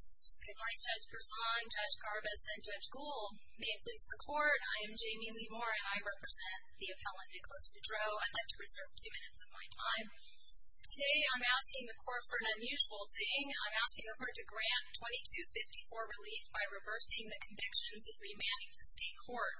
Good morning, Judge Persaud, Judge Garbus, and Judge Gould. May it please the Court, I am Jamie Lee Moore and I represent the appellant Nicholas Beaudreaux. I'd like to reserve two minutes of my time. Today I'm asking the Court for an unusual thing. I'm asking the Court to grant 2254 relief by reversing the convictions and remanding to state court.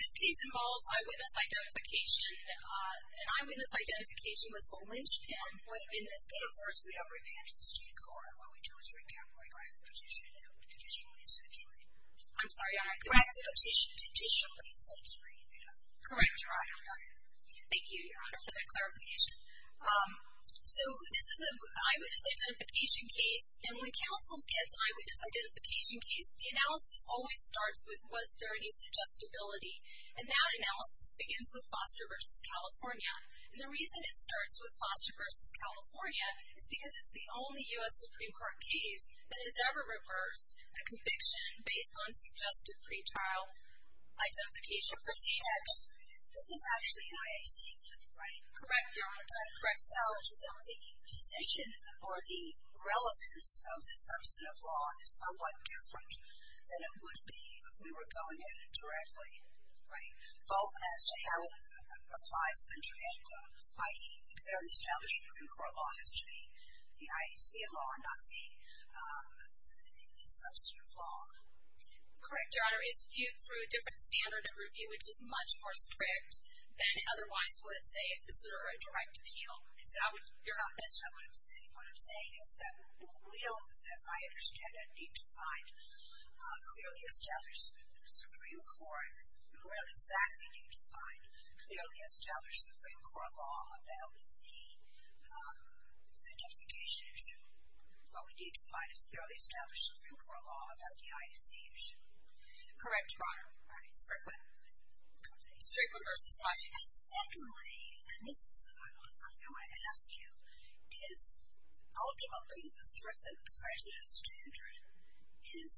This case involves eyewitness identification. An eyewitness identification was omitted in this case. First we have remanded to the state court. What we do is write down the right to petition, conditionally and sexually. I'm sorry, Your Honor. Right to petition, conditionally and sexually. Correct, Your Honor. Thank you, Your Honor, for that clarification. So this is an eyewitness identification case, and when counsel gets an eyewitness identification case, the analysis always starts with was there any suggestibility. And that analysis begins with Foster v. California. And the reason it starts with Foster v. California is because it's the only U.S. Supreme Court case that has ever reversed a conviction based on suggested pretrial identification procedures. This is actually an IAC case, right? Correct, Your Honor. Correct. So the position or the relevance of the substantive law is somewhat different than it would be if we were going at it directly, right? Both as to how it applies to the trade law, i.e., the established Supreme Court law has to be the IAC law and not the substantive law. Correct, Your Honor. So it's viewed through a different standard of review, which is much more strict than it otherwise would, say, if this were a direct appeal. Your Honor, that's not what I'm saying. What I'm saying is that we don't, as I understand it, need to find a clearly established Supreme Court. We don't exactly need to find a clearly established Supreme Court law about the identification issue. What we need to find is a clearly established Supreme Court law about the IAC issue. Correct, Your Honor. All right. Strictly versus positive. And secondly, and this is something I wanted to ask you, is ultimately the strict and positive standard is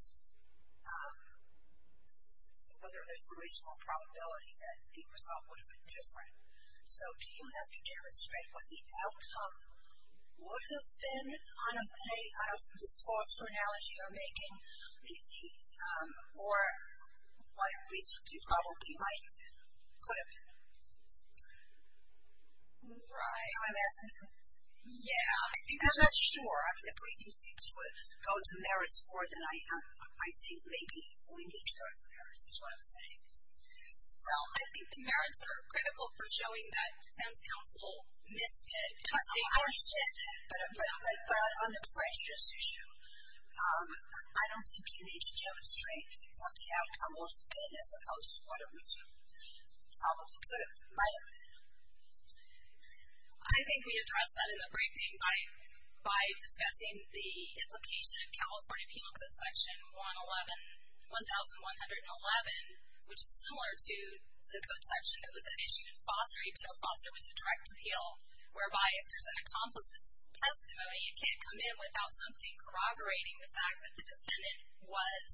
whether there's a reasonable probability that the result would have been different. So do you have to demonstrate what the outcome would have been out of this false chronology you're making, or what reason you probably might have been, could have been? Right. That's what I'm asking you. Yeah. I'm not sure. I mean, the briefing seems to go into merits more than I am. Well, I think the merits are critical for showing that defense counsel missed it. But on the prejudice issue, I don't think you need to demonstrate what the outcome would have been as opposed to what a reason you probably could have, might have been. I think we addressed that in the briefing by discussing the implication of California Penal Code Section 1111, which is similar to the code section that was at issue in Foster. Even though Foster was a direct appeal, whereby if there's an accomplice's testimony, it can't come in without something corroborating the fact that the defendant was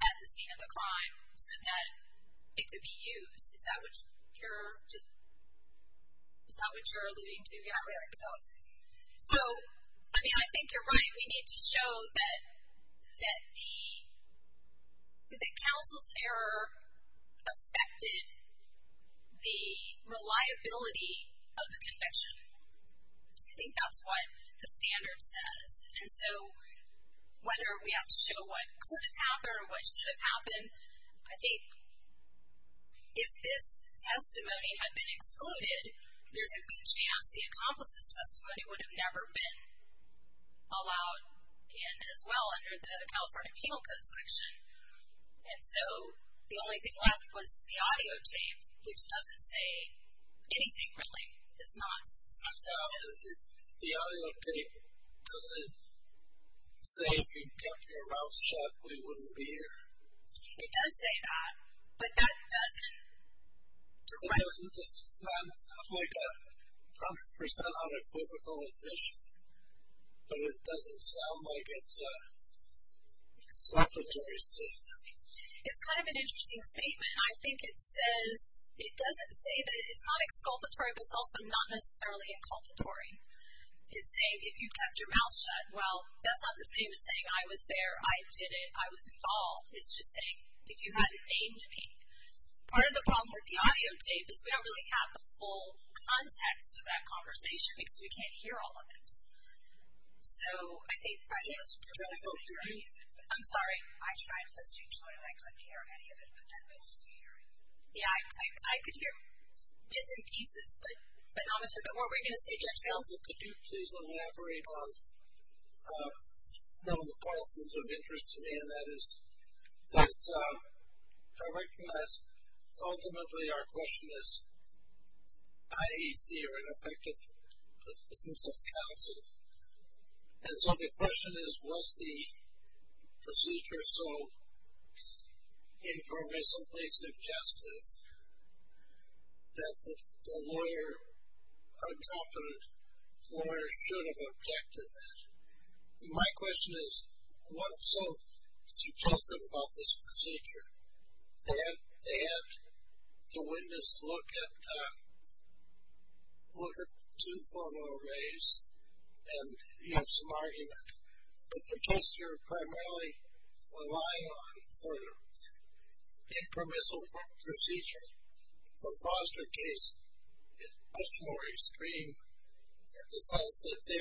at the scene of the crime so that it could be used. Is that what you're alluding to? Yeah. So, I mean, I think you're right. We need to show that counsel's error affected the reliability of the conviction. I think that's what the standard says. And so, whether we have to show what could have happened or what should have happened, I think if this testimony had been excluded, there's a good chance the accomplice's testimony would have never been allowed in as well under the California Penal Code Section. And so, the only thing left was the audio tape, which doesn't say anything really. It's not substantive. The audio tape, doesn't it say if you kept your mouth shut, we wouldn't be here? It does say that. But that doesn't. It doesn't sound like a 100% unequivocal admission. But it doesn't sound like it's an exculpatory statement. It's kind of an interesting statement. I think it says, it doesn't say that it's not exculpatory, but it's also not necessarily inculpatory. It's saying if you kept your mouth shut. Well, that's not the same as saying I was there, I did it, I was involved. It's just saying if you hadn't named me. Part of the problem with the audio tape is we don't really have the full context of that conversation because we can't hear all of it. So, I think. I hope you do. I'm sorry. I tried listening to it and I couldn't hear any of it, but I'm hearing. Yeah, I could hear bits and pieces, but not a whole bit more. What were you going to say, Judge Gail? So, could you please elaborate on one of the questions of interest to me, and that is, because I recognize ultimately our question is, IAC are ineffective systems of counsel. And so, the question is, was the procedure so informatively suggestive that the lawyer, a competent lawyer, should have objected to that? My question is, what's so suggestive about this procedure? They had the witness look at two photo arrays and have some argument. But the test you're primarily relying on for the impermissible procedure, the Foster case, is much more extreme in the sense that they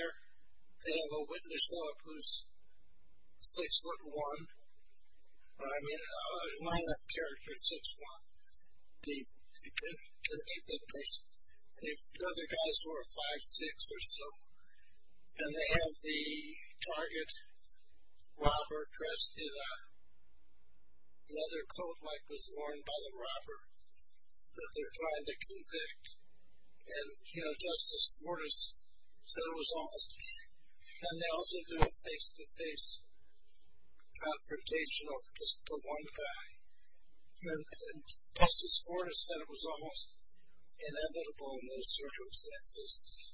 have a witness who's 6'1", or I mean a line of character 6'1". The other guys who are 5'6 or so, and they have the target robber dressed in a leather coat like was worn by the robber that they're trying to convict. And, you know, Justice Fortas said it was almost. And they also do a face-to-face confrontation of just the one guy. And Justice Fortas said it was almost inevitable in those circumstances that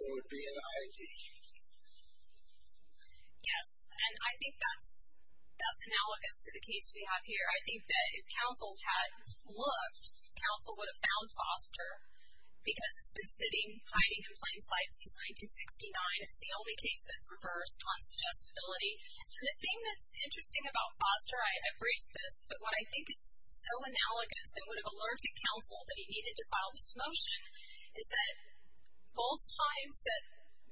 there would be an IED. Yes, and I think that's analogous to the case we have here. I think that if counsel had looked, counsel would have found Foster, because it's been sitting, hiding in plain sight since 1969. It's the only case that's reversed on suggestibility. And the thing that's interesting about Foster, I briefed this, but what I think is so analogous and would have alerted counsel that he needed to file this motion, is that both times that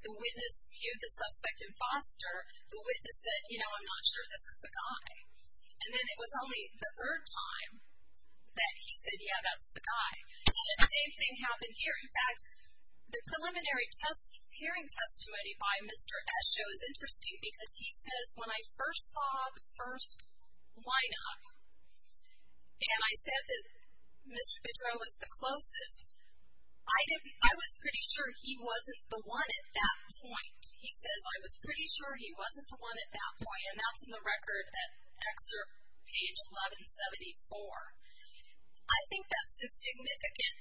the witness viewed the suspect in Foster, the witness said, you know, I'm not sure this is the guy. And then it was only the third time that he said, yeah, that's the guy. And the same thing happened here. In fact, the preliminary hearing testimony by Mr. Esho is interesting because he says, when I first saw the first lineup, and I said that Mr. Bidreau was the closest, I was pretty sure he wasn't the one at that point. He says, I was pretty sure he wasn't the one at that point. And that's in the record at excerpt page 1174. I think that's a significant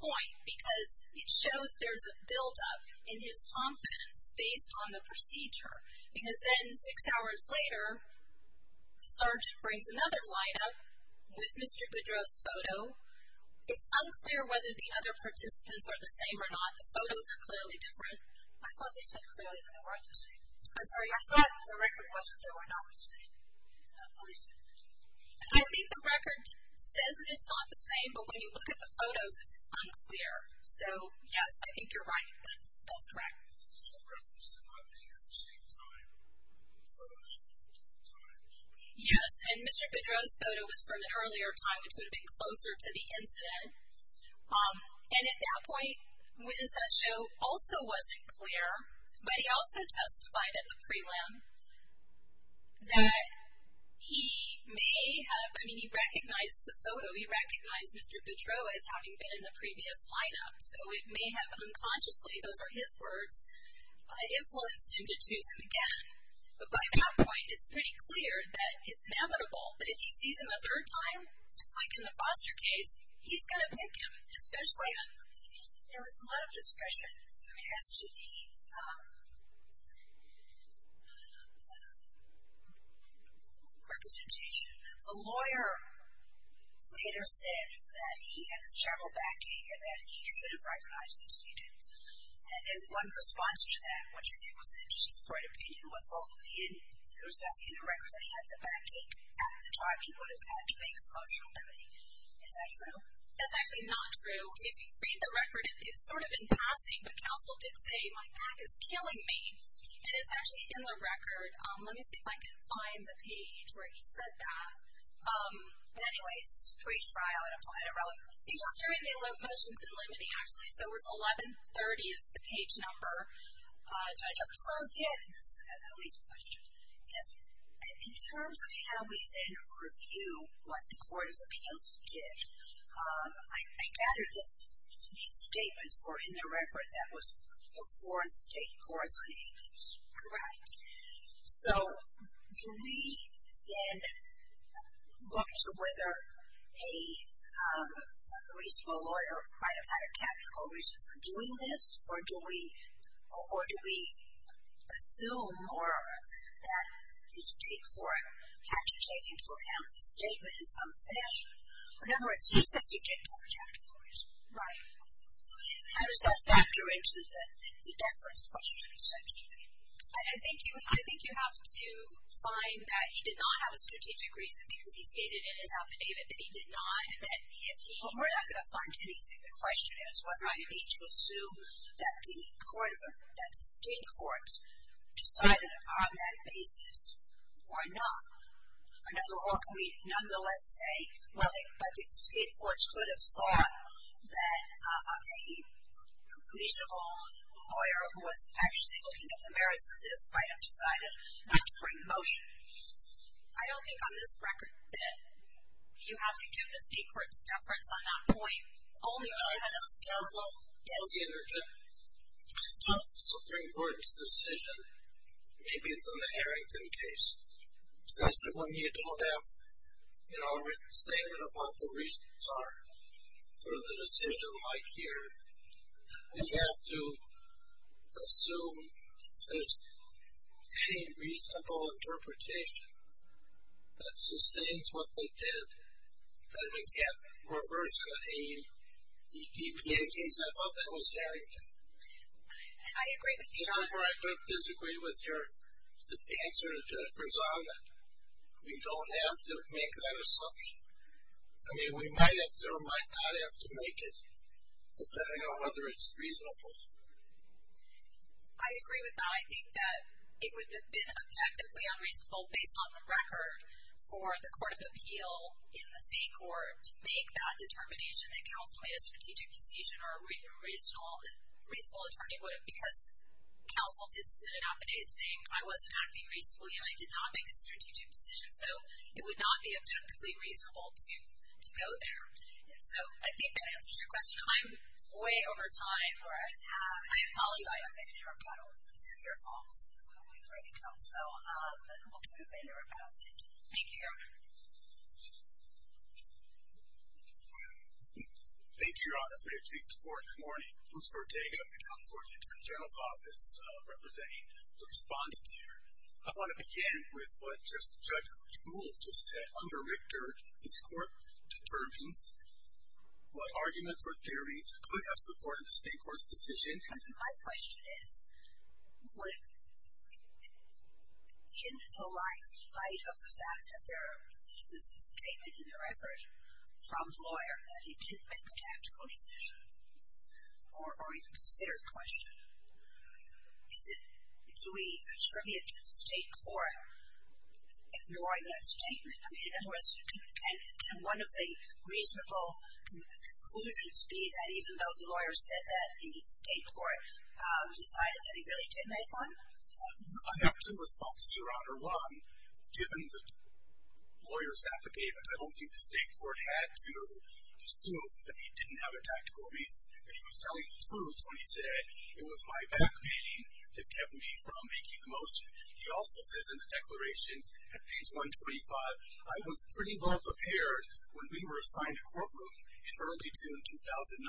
point because it shows there's a buildup in his confidence based on the procedure. Because then six hours later, the sergeant brings another lineup with Mr. Bidreau's photo. It's unclear whether the other participants are the same or not. The photos are clearly different. I thought they said clearly that they weren't the same. I'm sorry? I thought the record wasn't that they were not the same. I think the record says that it's not the same, but when you look at the photos, it's unclear. So, yes, I think you're right. That's correct. It's a reference to not being at the same time. The photos are from different times. Yes, and Mr. Bidreau's photo was from an earlier time, which would have been closer to the incident. And at that point, witness at show also wasn't clear. But he also testified at the prelim that he may have, I mean, he recognized the photo. He recognized Mr. Bidreau as having been in the previous lineup. So it may have unconsciously, those are his words, influenced him to choose him again. But by that point, it's pretty clear that it's inevitable. But if he sees him a third time, just like in the Foster case, he's going to pick him, especially on the meeting. There was a lot of discussion, I mean, as to the representation. The lawyer later said that he had this terrible backache and that he should have recognized him, so he did. And one response to that, which I think was an interesting point of opinion, was, well, I mean, there was nothing in the record that he had the backache at the time he would have had to make a motion limiting. Is that true? That's actually not true. If you read the record, it's sort of in passing, but counsel did say, my back is killing me. And it's actually in the record. Let me see if I can find the page where he said that. But anyways, it's pre-trial and applied irrelevant. He was doing the motions and limiting, actually. So it was 1130 is the page number. So, again, this is a legal question. In terms of how we then review what the Court of Appeals did, I gather these statements were in the record that was before the State Courts in the 80s. Correct. So do we then look to whether a reasonable lawyer might have had a tactical reason for doing this or do we assume more that the State Court had to take into account the statement in some fashion? In other words, he says he didn't have a tactical reason. Right. How does that factor into the deference question essentially? I think you have to find that he did not have a strategic reason because he stated in his affidavit that he did not. Well, we're not going to find anything. The question is whether I need to assume that the State Courts decided on that basis or not. Or can we nonetheless say, well, the State Courts could have thought that a reasonable lawyer who was actually looking at the merits of this might have decided not to bring the motion. I don't think on this record that you have to do the State Courts' deference on that point. Only when you have a- In terms of the Supreme Court's decision, maybe it's on the Harrington case. Because when you don't have a written statement of what the reasons are for the decision like here, you have to assume if there's any reasonable interpretation that sustains what they did, that it can't reverse the DPA case. I thought that was Harrington. I agree with you. However, I don't disagree with your answer that just presided. We don't have to make that assumption. I mean, we might or might not have to make it, depending on whether it's reasonable. I agree with that. I think that it would have been objectively unreasonable, based on the record, for the Court of Appeal in the State Court to make that determination that counsel made a strategic decision or a reasonable attorney would have. Because counsel did submit an affidavit saying, I wasn't acting reasonably and I did not make a strategic decision. So, it would not be objectively reasonable to go there. And so, I think that answers your question. I'm way over time. Thank you, Your Honor. This is your fault. So, we'll move into rebuttal. Thank you. Thank you, Your Honor. Thank you, Your Honor. I'm very pleased to report this morning, Bruce Ortega of the California Attorney General's Office representing the respondents here. I want to begin with what Judge Kuhl just said. Under Richter, this Court determines what arguments or theories could have supported the State Court's decision. My question is, in the light of the fact that there is this statement in the record from the lawyer that he didn't make a tactical decision, or even consider the question, is it, do we attribute to the State Court ignoring that statement? In other words, can one of the reasonable conclusions be that even though the lawyer said that, the State Court decided that he really did make one? I have two responses, Your Honor. One, given the lawyer's affidavit, I don't think the State Court had to assume that he didn't have a tactical reason. He was telling the truth when he said, it was my back pain that kept me from making the motion. He also says in the declaration at page 125, I was pretty well prepared when we were assigned a courtroom in early June 2009.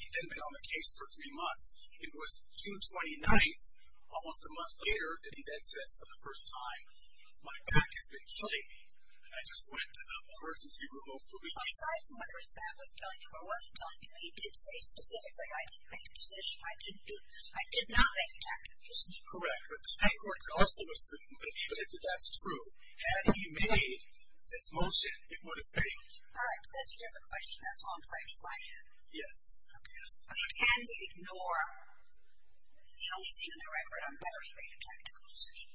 He hadn't been on the case for three months. It was June 29th, almost a month later, that he then says for the first time, my back has been killing me, and I just went to the emergency room over the weekend. Aside from whether his back was killing him or wasn't killing him, he did say specifically, I didn't make a decision. I did not make a tactical decision. Correct. But the State Court could also assume that even if that's true, had he made this motion, it would have failed. All right. That's a different question. That's all I'm trying to find here. Yes. Yes. Can they ignore the only thing in the record on whether he made a tactical decision?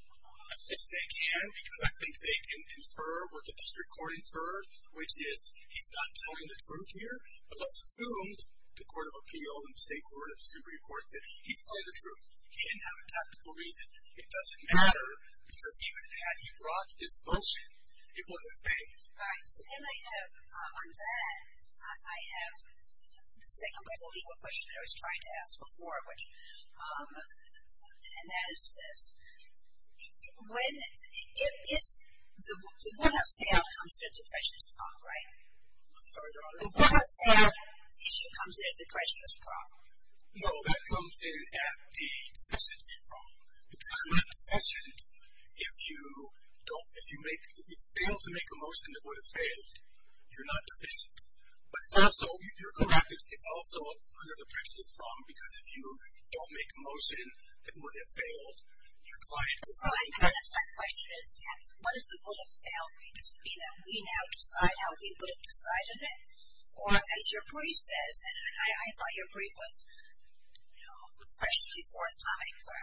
I think they can, because I think they can infer what the district court inferred, which is he's not telling the truth here. But let's assume the Court of Appeal and the State Court of Superior Courts that he's telling the truth. He didn't have a tactical reason. It doesn't matter, because even had he brought this motion, it would have failed. All right. So then I have, on that, I have the second level legal question that I was trying to ask before, and that is this. If the board has failed, it comes to a deprecious problem, right? Sorry, Your Honor. The board has failed, it comes to a deprecious problem. No, that comes in at the deficiency problem. Because you're not deficient if you fail to make a motion that would have failed. You're not deficient. But it's also, you're correct, it's also under the prejudice problem, because if you don't make a motion that would have failed, your client will find out. So I guess my question is, what does the board have failed mean? Does it mean that we now decide how we would have decided it? Or, as your brief says, and I thought your brief was, you know, was especially forthcoming for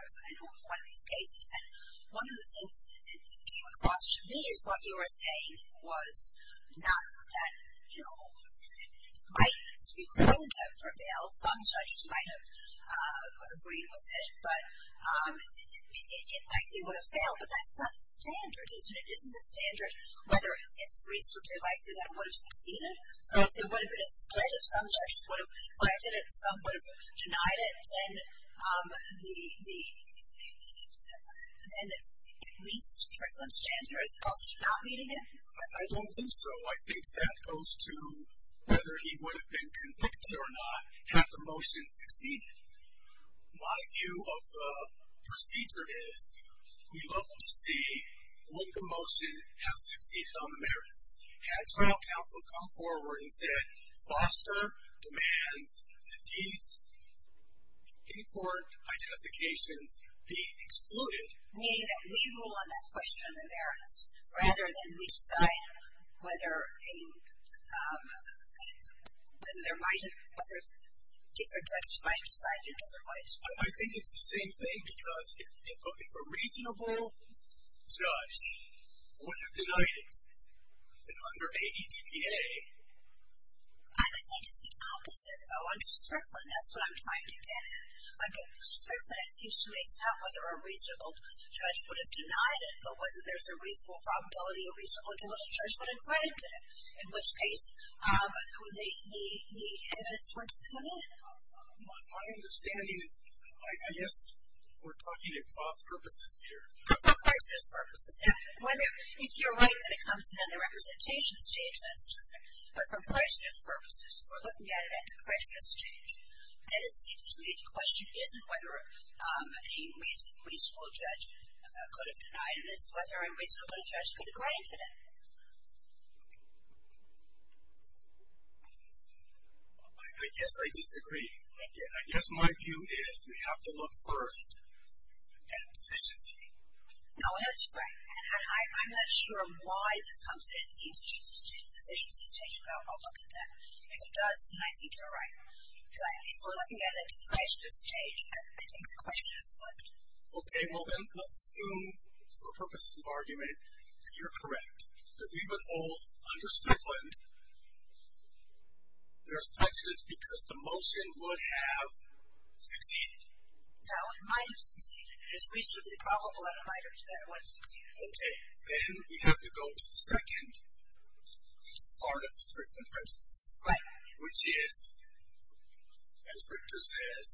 one of these cases. And one of the things that came across to me is what you were saying was not that, you know, it might be prone to prevail. Some judges might have agreed with it, but it likely would have failed. But that's not the standard, isn't it? Isn't the standard whether it's reasonably likely that it would have succeeded? So if there would have been a split, if some judges would have claimed it and some would have denied it, then it meets the Strickland standard as opposed to not meeting it? I don't think so. I think that goes to whether he would have been convicted or not had the motion succeeded. My view of the procedure is we'd love to see, would the motion have succeeded on the merits? Had trial counsel come forward and said, Foster demands that these in-court identifications be excluded. Meaning that we rule on that question on the merits rather than we decide whether a, whether there might have, whether different judges might have decided in different ways. I think it's the same thing because if a reasonable judge would have denied it, then under AEDPA. I don't think it's the opposite, though. Under Strickland, that's what I'm trying to get at. Under Strickland, it seems to me it's not whether a reasonable judge would have denied it, but whether there's a reasonable probability a reasonable judge would have claimed it. In which case, the evidence wouldn't have come in. My understanding is, I guess we're talking across purposes here. For crisis purposes. If you're right that it comes in under representation stage, that's different. But for crisis purposes, we're looking at it at the crisis stage. And it seems to me the question isn't whether a reasonable judge could have denied it. It's whether a reasonable judge could have granted it. I guess I disagree. I guess my view is we have to look first at efficiency. No, that's right. And I'm not sure why this comes in at the efficiency stage. The efficiency stage, well, I'll look at that. If it does, then I think you're right. If we're looking at it at the question stage, I think the question is flipped. Okay. Well, then, let's assume for purposes of argument that you're correct, that we would hold under Strickland there's prejudice because the motion would have succeeded. That one might have succeeded. It is reasonably probable that it might have succeeded. Okay. Then we have to go to the second part of the Strickland prejudice, which is, as Richter says,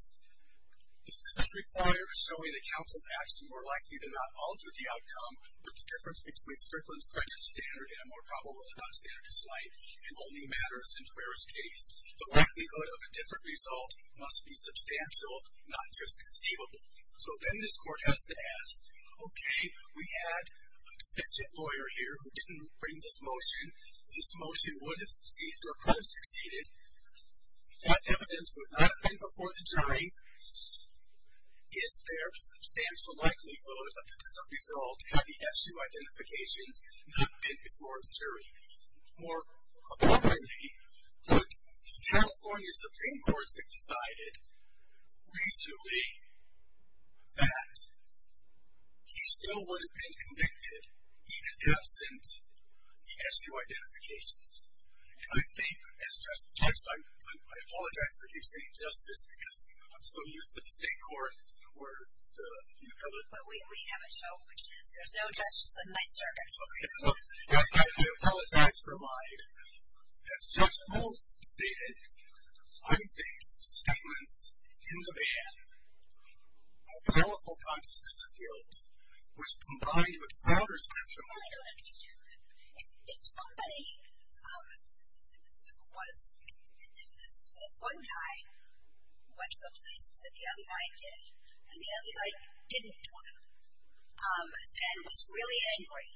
this does not require showing that counsel's action more likely than not altered the outcome, but the difference between Strickland's prejudice standard and a more probable than not standard is slight, and only matters in Tuerer's case. The likelihood of a different result must be substantial, not just conceivable. So then this court has to ask, okay, we had a deficient lawyer here who didn't bring this motion. This motion would have succeeded or could have succeeded. That evidence would not have been before the jury. Is there a substantial likelihood that the result had the SU identifications not been before the jury? More abundantly, the California Supreme Court has decided reasonably that he still would have been convicted, even absent the SU identifications. And I think, as just judged, I apologize for keep saying justice because I'm so used to the state court where you have it. But we have it, so there's no justice in my service. I do apologize for mine. As Judge Holmes stated, unfaithful statements in the ban, a powerful consciousness of guilt, which combined with Fowler's testimony. Well, I don't understand. If somebody was, if one guy went to the police and said the other guy did, and the other guy didn't do it, and was really angry,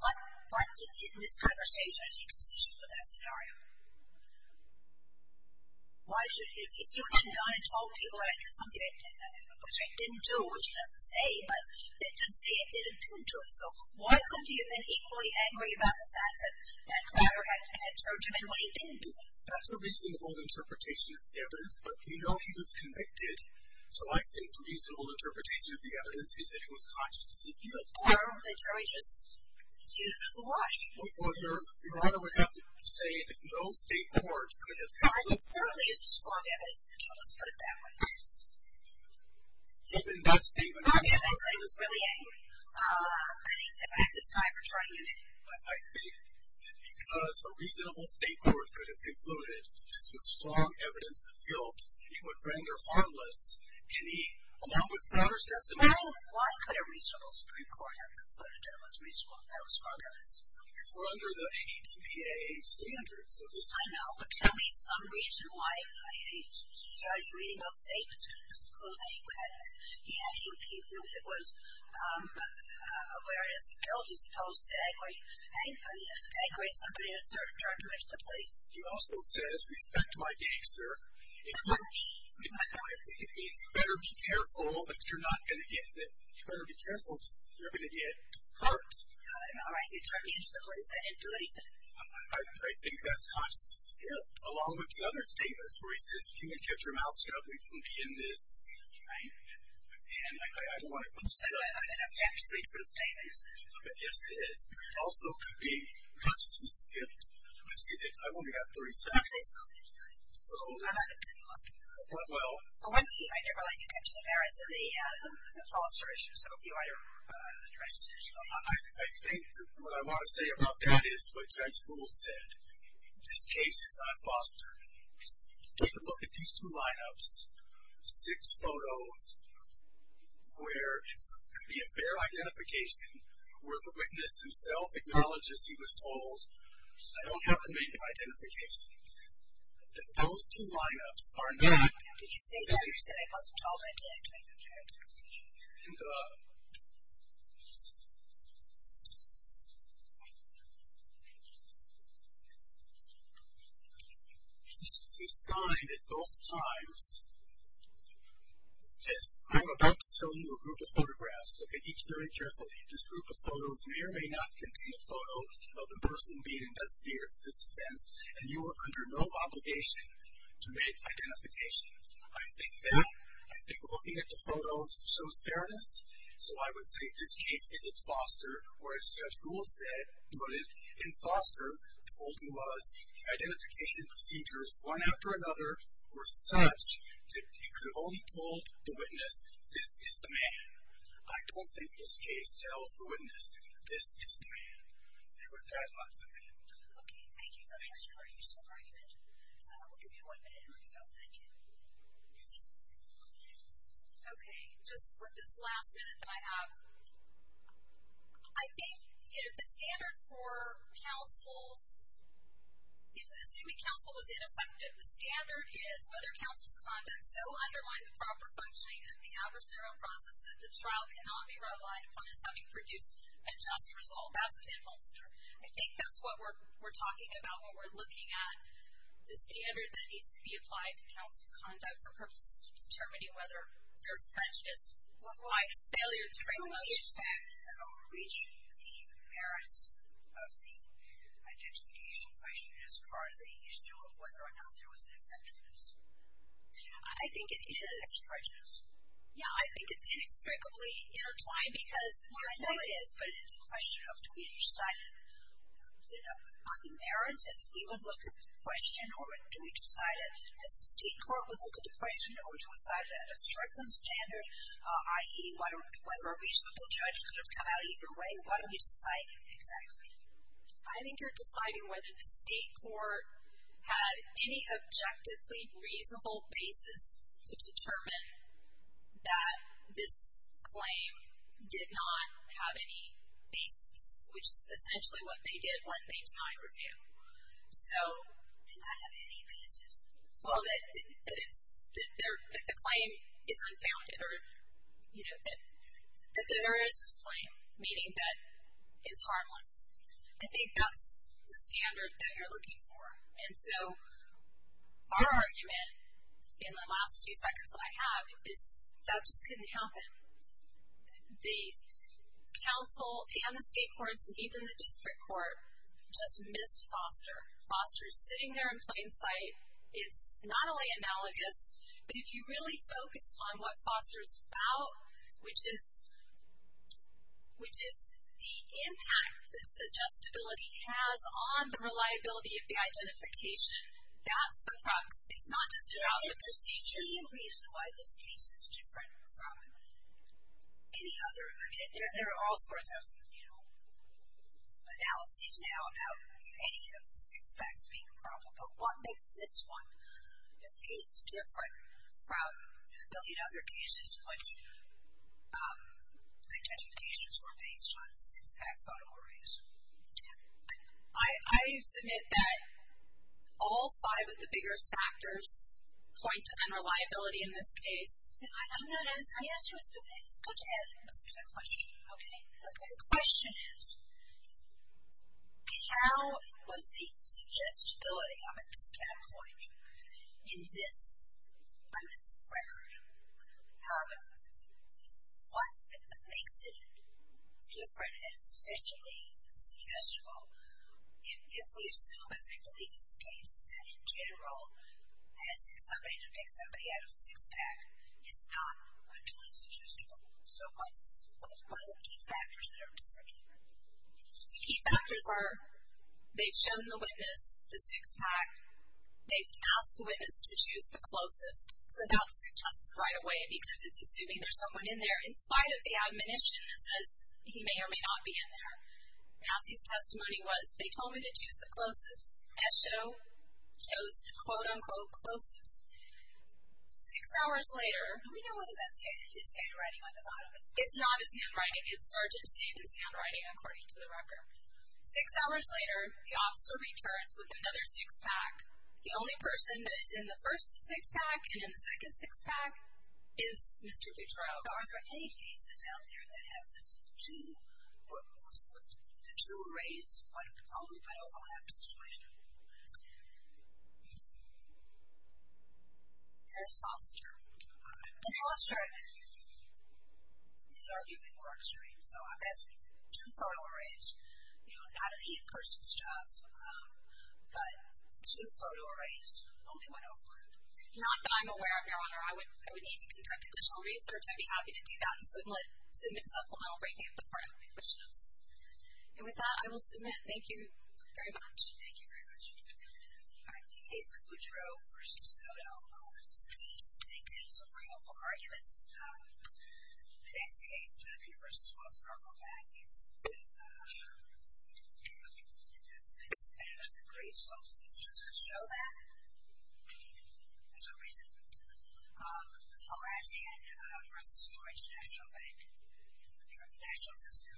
what, in this conversation, is he consistent with that scenario? Why should, if you had gone and told people that it was something that he didn't do, which it doesn't say, but it doesn't say it did or didn't do it, so why couldn't he have been equally angry about the fact that that guy had turned him in when he didn't do it? That's a reasonable interpretation of the evidence, but we know he was convicted. So I think the reasonable interpretation of the evidence is that it was consciousness of guilt. Or that Joey just did it as a wash. Well, Your Honor would have to say that no state court could have concluded. Well, there certainly is strong evidence of guilt. Let's put it that way. Given that statement. Not the evidence that he was really angry at this guy for turning him in. I think that because a reasonable state court could have concluded this was strong evidence of guilt, it would render harmless any, along with Fowler's testimony. Well, why could a reasonable state court have concluded that it was reasonable? That was strong evidence of guilt. Because we're under the ATPAA standards. Yes, I know. But tell me some reason why he started reading those statements to conclude that he had, that it was awareness of guilt as opposed to angry at somebody that turned him in to the police. He also says, respect my gangster. I think it means better be careful that you're not going to get hurt. All right. He turned me in to the police. I didn't do anything. I think that's consciousness of guilt, along with the other statements where he says, if you hadn't kept your mouth shut, we wouldn't be in this. Right. And I don't want to. I know. And I'm happy to plead for the statements. Yes, it is. Also could be consciousness of guilt. I see that. I've only got three seconds. So. Well. I never like to mention the merits of the foster issue. So if you want to address it. I think what I want to say about that is what Judge Gould said. This case is not fostered. Take a look at these two lineups, six photos, where it could be a fair identification, where the witness himself acknowledges he was told, I don't have a native identification. Those two lineups are not. Did he say that? He said I wasn't told I didn't have a native identification. And he signed at both times this, I'm about to show you a group of photographs. Look at each very carefully. This group of photos may or may not contain a photo of the person being investigated for this offense. And you are under no obligation to make identification. I think that, I think looking at the photos shows fairness. So I would say this case isn't foster. Or as Judge Gould said, in foster, the holding was identification procedures, one after another, were such that you could have only told the witness, this is the man. I don't think this case tells the witness, this is the man. And with that, I'll turn it over to you. Okay, thank you very much for your useful argument. We'll give you one minute to read it out. Thank you. Okay, just with this last minute that I have. I think the standard for counsels, assuming counsel was ineffective, the standard is whether counsel's conduct so undermined the proper functioning and the adversarial process that the trial cannot be relied upon as having produced a just result. That's a good answer. I think that's what we're talking about when we're looking at the standard that needs to be applied to counsel's conduct for purposes of determining whether there's prejudice, bias, failure to bring about justice. Will the effect reach the merits of the identification question as part of the issue of whether or not there was an infectiousness? I think it is. Yeah, I think it's inextricably intertwined. I know it is, but it's a question of do we decide on the merits as we would look at the question or do we decide as the state court would look at the question or do we decide at a stricter standard, i.e., whether a reasonable judge could have come out either way? What are we deciding exactly? I think you're deciding whether the state court had any objectively reasonable basis to determine that this claim did not have any basis, which is essentially what they did when they denied review. Did not have any basis? Well, that the claim is unfounded or that there is a claim, meaning that it's harmless. I think that's the standard that you're looking for. And so, our argument in the last few seconds that I have is that just couldn't happen. The council and the state courts and even the district court just missed Foster. Foster's sitting there in plain sight. It's not only analogous, but if you really focus on what Foster's about, which is the impact this adjustability has on the reliability of the identification, that's the crux. It's not just throughout the procedure. Yeah, and can you reason why this case is different from any other? I mean, there are all sorts of, you know, analyses now about any of the six facts being probable. But what makes this one, this case, different from a billion other cases in which identifications were based on six fact photo arrays? I submit that all five of the biggest factors point to unreliability in this case. I'm not as, I asked you a specific, it's good to ask a specific question, okay? The question is, how was the suggestibility of this catapult in this record? What makes it different and sufficiently suggestible? If we assume, as I believe is the case, that in general, asking somebody to pick somebody out of six fact is not utterly suggestible. So what are the key factors that are different here? The key factors are they've shown the witness the six fact. They've asked the witness to choose the closest. So that's suggested right away because it's assuming there's someone in there, in spite of the admonition that says he may or may not be in there. Patsy's testimony was, they told me to choose the closest. Esho chose the quote, unquote, closest. Six hours later. Do we know whether that's his handwriting on the bottom? It's not his handwriting. It's Sergeant Staten's handwriting, according to the record. Six hours later, the officer returns with another six fact. The only person that is in the first six fact and in the second six fact is Mr. Fitzgerald. Are there any cases out there that have the two arrays, but only one overlap situation? There's Foster. Foster is arguably more extreme. So I'm asking two photo arrays, you know, not an in-person stuff, but two photo arrays, only one overlap. Not that I'm aware of, Your Honor. I would need to conduct additional research. I'd be happy to do that and submit supplemental breaking up the part of the admissions. And with that, I will submit. Thank you very much. Thank you very much. All right. In the case of Buttreau versus Soto, all of the cities take their summary of all arguments. The next case, Convergence, will circle back. It's a great example. It's just going to show that. There's a reason. I'll ask again. Versus Storage National Bank. National System.